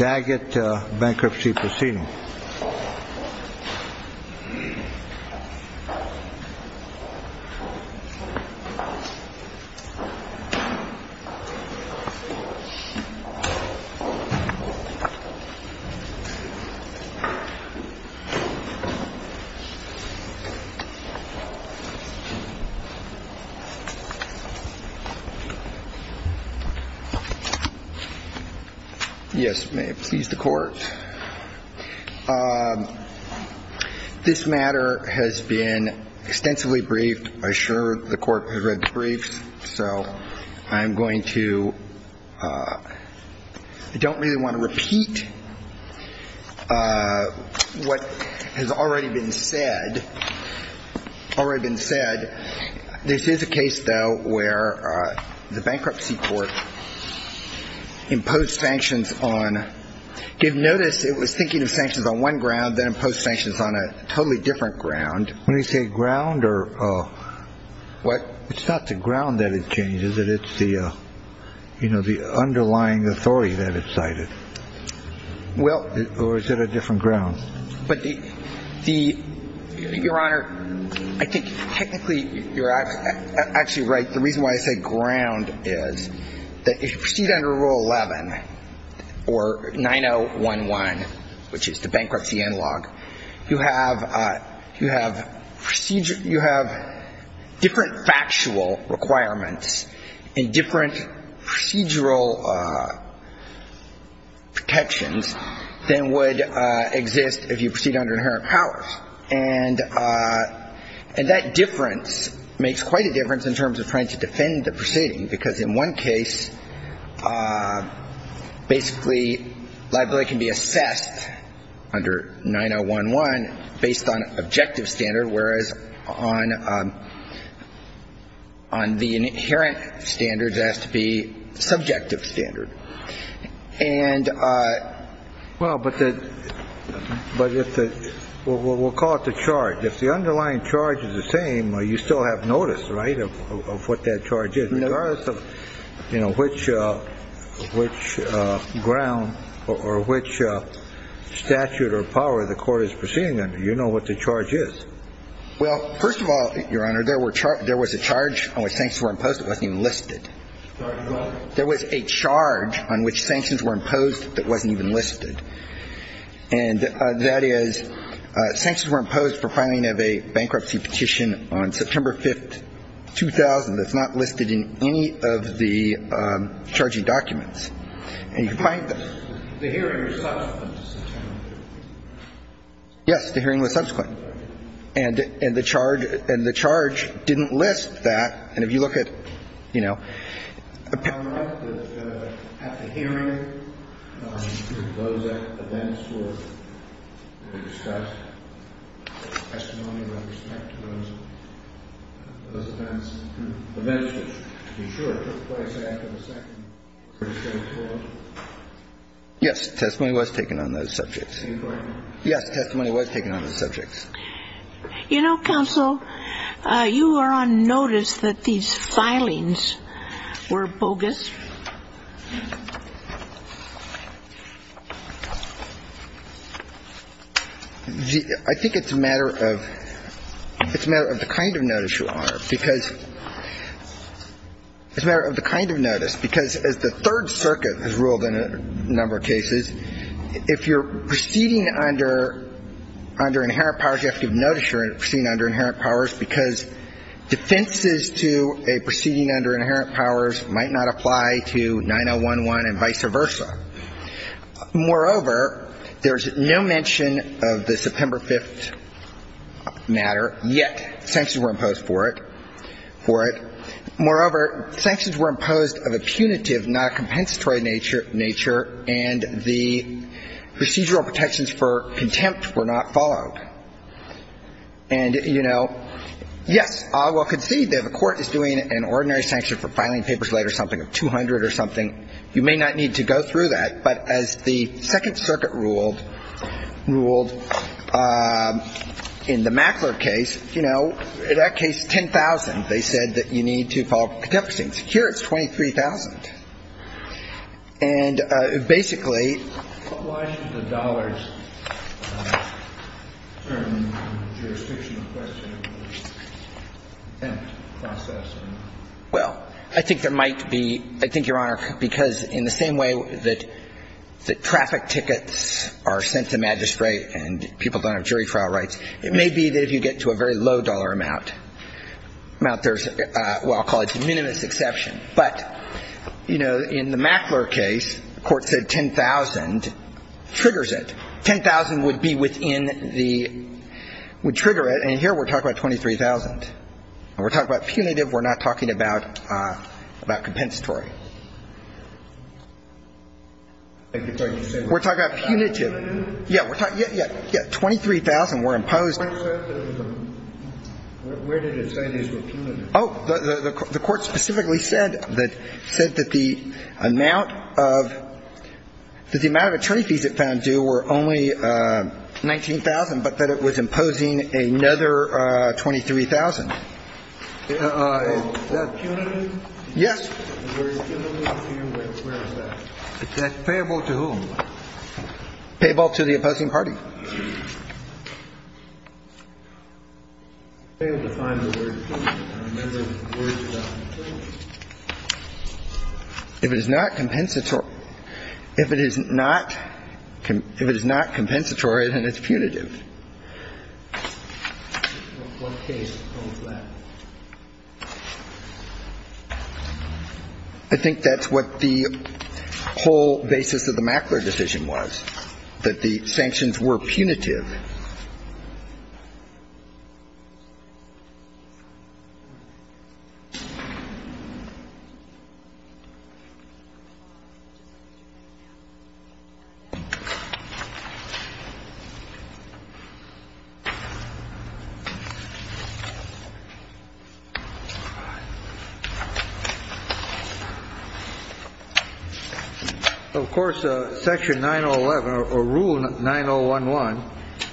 Daggett Bankruptcy Procedure This matter has been extensively briefed. I'm sure the Court has read the briefs, so I'm going to ‑‑ I don't really want to repeat what has already been said. Already been said. This is a case, though, where the bankruptcy court imposed sanctions on ‑‑ you'd notice it was thinking of sanctions on one ground, then imposed sanctions on a totally different ground. When you say ground or ‑‑ What? It's not the ground that it changed, is it? It's the, you know, the underlying authority that it cited. Well ‑‑ Or is it a different ground? But the ‑‑ your Honor, I think technically you're actually right. The reason why I say ground is because under Rule 11, or 9011, which is the bankruptcy analog, you have procedure ‑‑ you have different factual requirements and different procedural protections than would exist if you proceed under inherent powers. And that difference makes quite a difference in terms of trying to defend the proceeding, because in one case, basically, liability can be assessed under 9011 based on objective standard, whereas on the inherent standards, it has to be subjective standard. And ‑‑ Well, but the ‑‑ we'll call it the charge. If the underlying charge is the same, you still have notice, right, of what that charge is. No. Regardless of, you know, which ground or which statute or power the court is proceeding under, you know what the charge is. Well, first of all, your Honor, there was a charge on which sanctions were imposed that wasn't even listed. Sorry, what? There was a charge on which sanctions were imposed that wasn't even listed. And that is, sanctions were imposed for filing of a bankruptcy petition on September 5th, 2000 that's not listed in any of the charging documents. And you find that ‑‑ The hearing was subsequent to September 5th. Yes. The hearing was subsequent. And the charge didn't list that. And if you look at, you know ‑‑ Your Honor, at the hearing, those events were discussed. Testimony with respect to those events. Events which, to be sure, took place after the second pretty straight court. Yes. Testimony was taken on those subjects. Are you quoting me? Yes. Testimony was taken on those subjects. You know, counsel, you were on notice that these filings were bogus. I think it's a matter of ‑‑ it's a matter of the kind of notice, Your Honor, because ‑‑ it's a matter of the kind of notice. Because as the Third Circuit has ruled in a number of cases, if you're proceeding under inherent powers, you have to give notice you're proceeding under inherent powers, because defenses to a proceeding under inherent powers might not apply to 9011 and vice versa. Moreover, there's no mention of the September 5th matter, yet sanctions were imposed for it. Moreover, sanctions were imposed of a punitive, not a compensatory nature, and the procedural protections for contempt were not followed. And, you know, yes, I will concede that the court is doing an ordinary sanction for filing papers late or something of 200 or something. You may not need to go through that, but as the Second Circuit ruled in the Mackler case, you know, in that case, 10,000, they said that you need to file contempt proceedings. Here it's 23,000. And basically ‑‑ Why should the dollars determine the jurisdictional question of the contempt process? Well, I think there might be ‑‑ I think, Your Honor, because in the same way that people are sent to magistrate and people don't have jury trial rights, it may be that if you get to a very low dollar amount, there's ‑‑ well, I'll call it a minimus exception. But, you know, in the Mackler case, the court said 10,000 triggers it. 10,000 would be within the ‑‑ would trigger it. And here we're talking about 23,000. And we're talking about punitive. We're not talking about ‑‑ about compensatory. We're talking about punitive. Yeah, we're talking ‑‑ yeah, yeah. 23,000 were imposed. Where did it say these were punitive? Oh, the court specifically said that the amount of ‑‑ that the amount of attorneys it found due were only 19,000, but that it was imposing another 23,000. Is that punitive? Yes. Where is that? It's payable to whom? Payable to the opposing party. Can you define the word punitive? If it is not compensatory ‑‑ if it is not ‑‑ if it is not compensatory, then it's punitive. What case holds that? I think that's what the whole basis of the Mackler decision was, that the sanctions were punitive. Of course, Section 9011, or Rule 9011,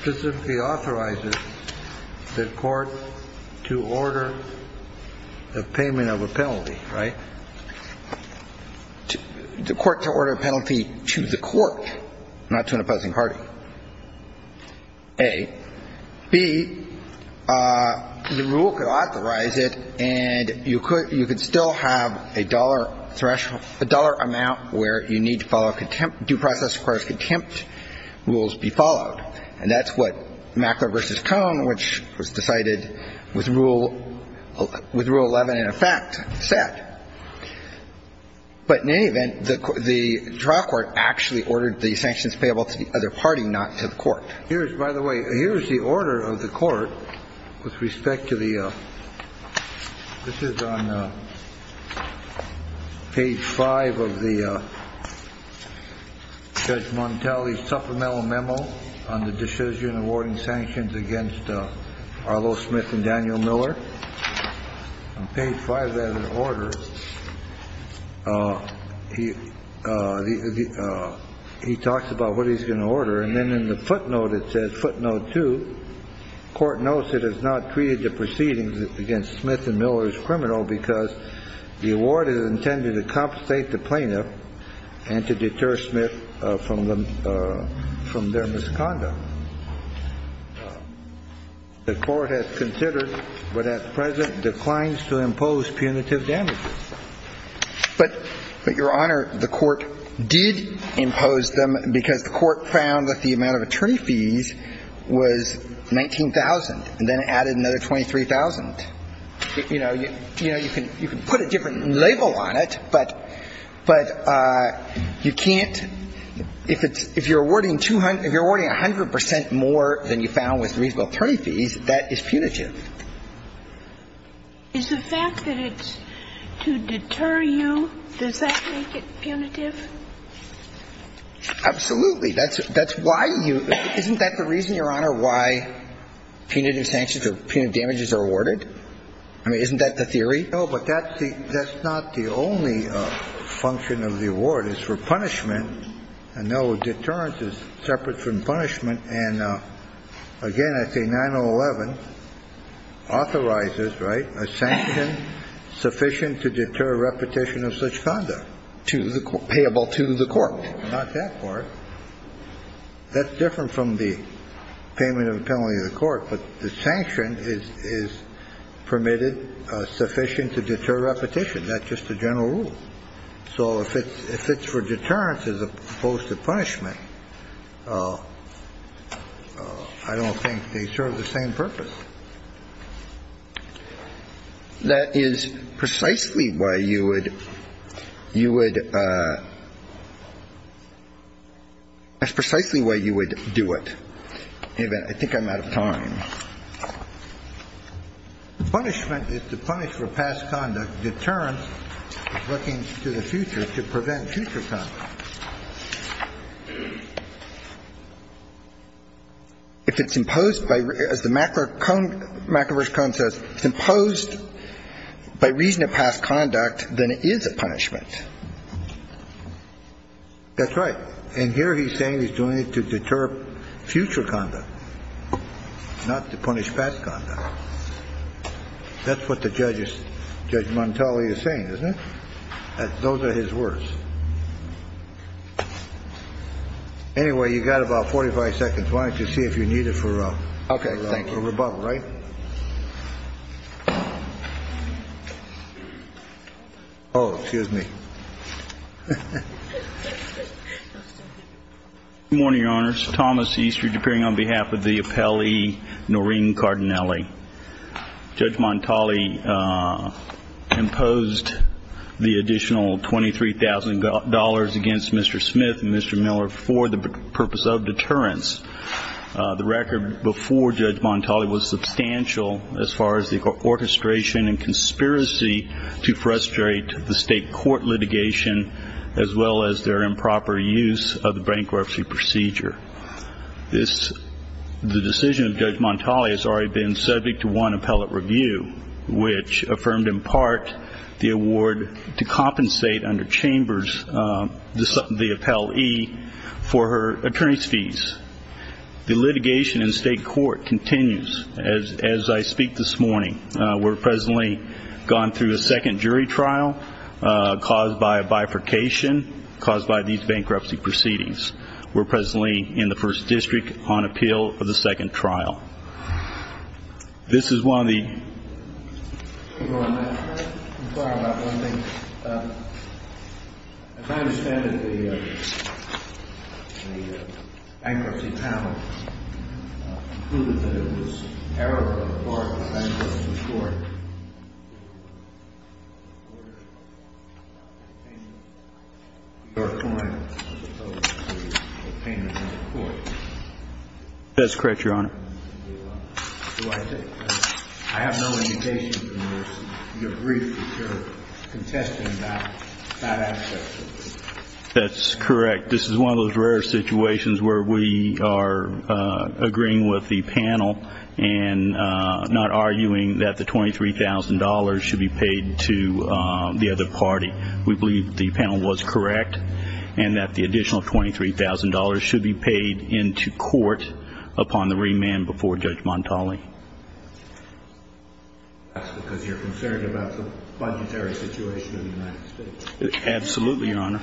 states that, the court to order the payment of a penalty, right? The court to order a penalty to the court, not to an opposing party, A. B, the rule could authorize it, and you could still have a dollar amount where you need to follow contempt ‑‑ due process requires contempt rules be followed. And that's what Mackler v. Cohn, which was decided with Rule 11 in effect, said. But in any event, the trial court actually ordered the sanctions payable to the other party, not to the court. Here is ‑‑ by the way, here is the order of the court with respect to the ‑‑ this is on page 5 of the Judge Montelli's supplemental memo on the decision awarding sanctions against Arlo Smith and Daniel Miller. On page 5 of that order, he talks about what he's going to order, and then in the footnote it says, footnote 2, court notes it has not treated the proceedings against Smith and Miller as criminal because the award is intended to compensate the plaintiff and to deter Smith from their misconduct. The court has considered, but at present declines to impose punitive damages. But, Your Honor, the court did impose them because the court found that the amount of attorney fees was 19,000, and then added another 23,000. You know, you can put a different label on it, but you can't ‑‑ if you're awarding 100 percent more than you found with reasonable attorney fees, that is punitive. Is the fact that it's to deter you, does that make it punitive? Absolutely. That's why you ‑‑ isn't that the reason, Your Honor, why punitive sanctions or punitive damages are awarded? I mean, isn't that the theory? No, but that's the ‑‑ that's not the only function of the award. It's for punishment, and no, deterrence is separate from punishment, and again, I say 9011 authorizes, right, a sanction sufficient to deter repetition of such conduct. Payable to the court. Not that court. That's different from the payment of a penalty to the court, but the sanction is permitted sufficient to deter repetition. That's just the general rule. So if it's for deterrence as opposed to punishment, I don't think they serve the same purpose. That is precisely why you would ‑‑ you would ‑‑ that's precisely why you would do it. In any event, I think I'm out of time. Punishment is to punish for past conduct. Deterrence is looking to the future to prevent future conduct. If it's imposed by ‑‑ as the macroverse cone says, it's imposed by reason of past conduct, then it is a punishment. That's right. And here he's saying he's doing it to deter future conduct, not to punish past conduct. That's what the judge is ‑‑ Judge Montali is saying, isn't it? Those are his words. Anyway, you've got about 45 seconds. Why don't you see if you need it for rebuttal, right? Okay. Thank you. Oh, excuse me. Good morning, Your Honors. Thomas Eastridge appearing on behalf of the appellee Noreen Cardinelli. Judge Montali imposed the additional $23,000 against Mr. Smith and Mr. Miller for the purpose of deterrence. The record before Judge Montali was substantial as far as the orchestration and conspiracy to frustrate the state court litigation, as well as their improper use of the bankruptcy procedure. The decision of Judge Montali has already been subject to one appellate review, which affirmed in part the award to compensate under Chambers the appellee for her attorney's fees. The litigation in state court continues as I speak this morning. We're presently going through a second jury trial caused by a bifurcation, caused by these bankruptcy proceedings. We're presently in the first district on appeal for the second trial. This is one of the ---- That's correct, Your Honor. That's correct. This is one of those rare situations where we are agreeing with the panel and not arguing that the $23,000 should be paid to the other party. We believe the panel was correct and that the additional $23,000 should be paid into court upon the remand before Judge Montali. That's because you're concerned about the budgetary situation in the United States. Absolutely, Your Honor.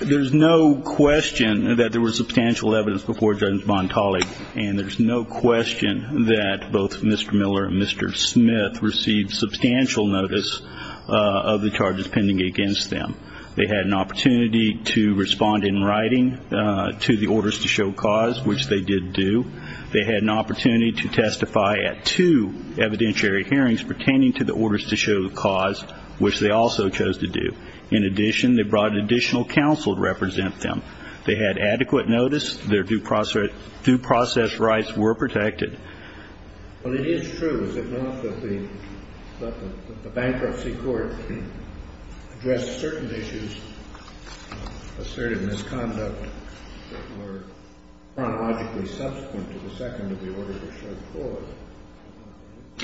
There's no question that there was substantial evidence before Judge Montali, and there's no question that both Mr. Miller and Mr. Smith received substantial notice of the charges pending against them. They had an opportunity to respond in writing to the orders to show cause, which they did do. They had an opportunity to testify at two evidentiary hearings pertaining to the orders to show cause, which they also chose to do. In addition, they brought additional counsel to represent them. They had adequate notice. Their due process rights were protected. But it is true, is it not, that the bankruptcy court addressed certain issues, asserted misconduct, that were chronologically subsequent to the second of the order to show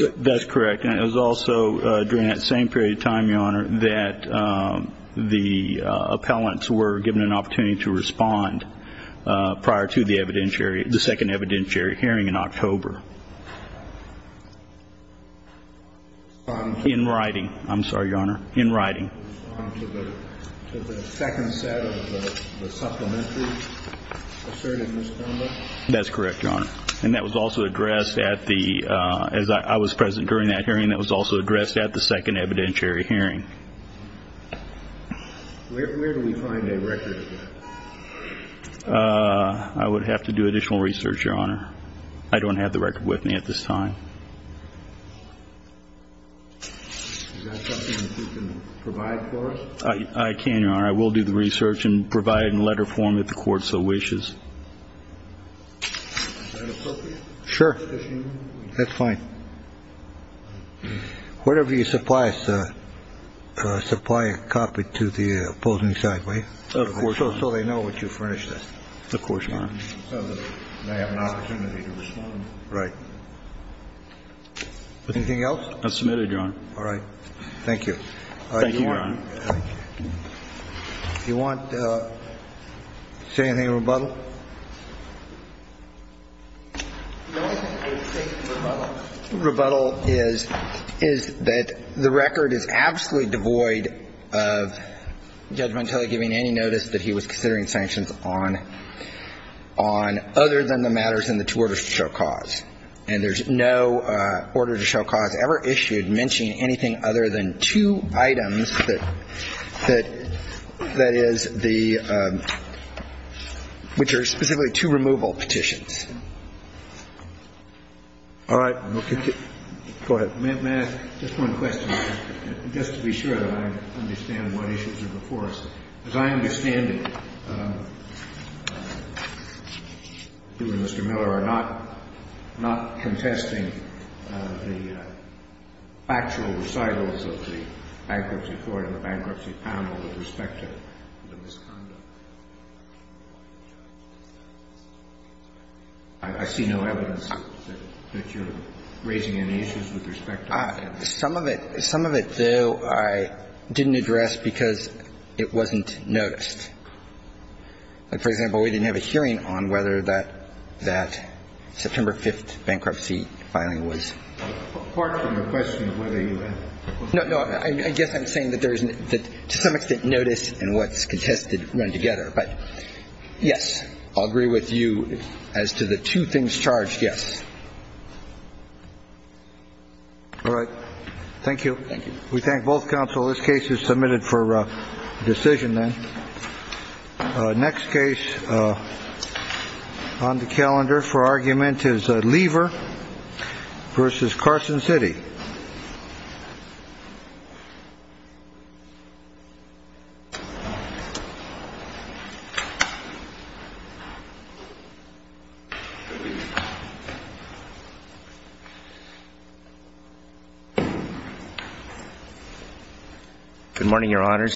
cause? That's correct. And it was also during that same period of time, Your Honor, that the appellants were given an opportunity to respond prior to the second evidentiary hearing in October. In writing. I'm sorry, Your Honor. That's correct, Your Honor. And that was also addressed at the – as I was present during that hearing, that was also addressed at the second evidentiary hearing. I would have to do additional research, Your Honor. I don't have the record with me at this time. I can, Your Honor. I will do the research and provide a letter for them if the court so wishes. Sure. That's fine. Whatever you supply us, supply a copy to the opposing side, will you? Of course, Your Honor. So they know what you furnished us. Of course, Your Honor. So that they have an opportunity to respond. Right. Anything else? That's submitted, Your Honor. All right. Thank you. Thank you, Your Honor. Thank you. Do you want to say anything in rebuttal? The only thing I would say in rebuttal is that the record is absolutely devoid of Judge Montelli giving any notice that he was considering sanctions on other than the matters in the two orders to show cause. And there's no order to show cause ever issued mentioning anything other than two items that is the, which are specifically two removal petitions. All right. Go ahead. May I ask just one question? Just to be sure that I understand what issues are before us. As I understand it, you and Mr. Miller are not contesting the actual recitals of the bankruptcy court and the bankruptcy panel with respect to the misconduct. I see no evidence that you're raising any issues with respect to that. Some of it, though, I didn't address because it wasn't noticed. Like, for example, we didn't have a hearing on whether that September 5th bankruptcy filing was. Apart from the question of whether you had. No, no. I guess I'm saying that there isn't that to some extent notice and what's contested run together. But yes, I'll agree with you as to the two things charged. Yes. All right. Thank you. Thank you. We thank both counsel. This case is submitted for decision. Then next case on the calendar for argument is a lever versus Carson City. Good morning, Your Honors.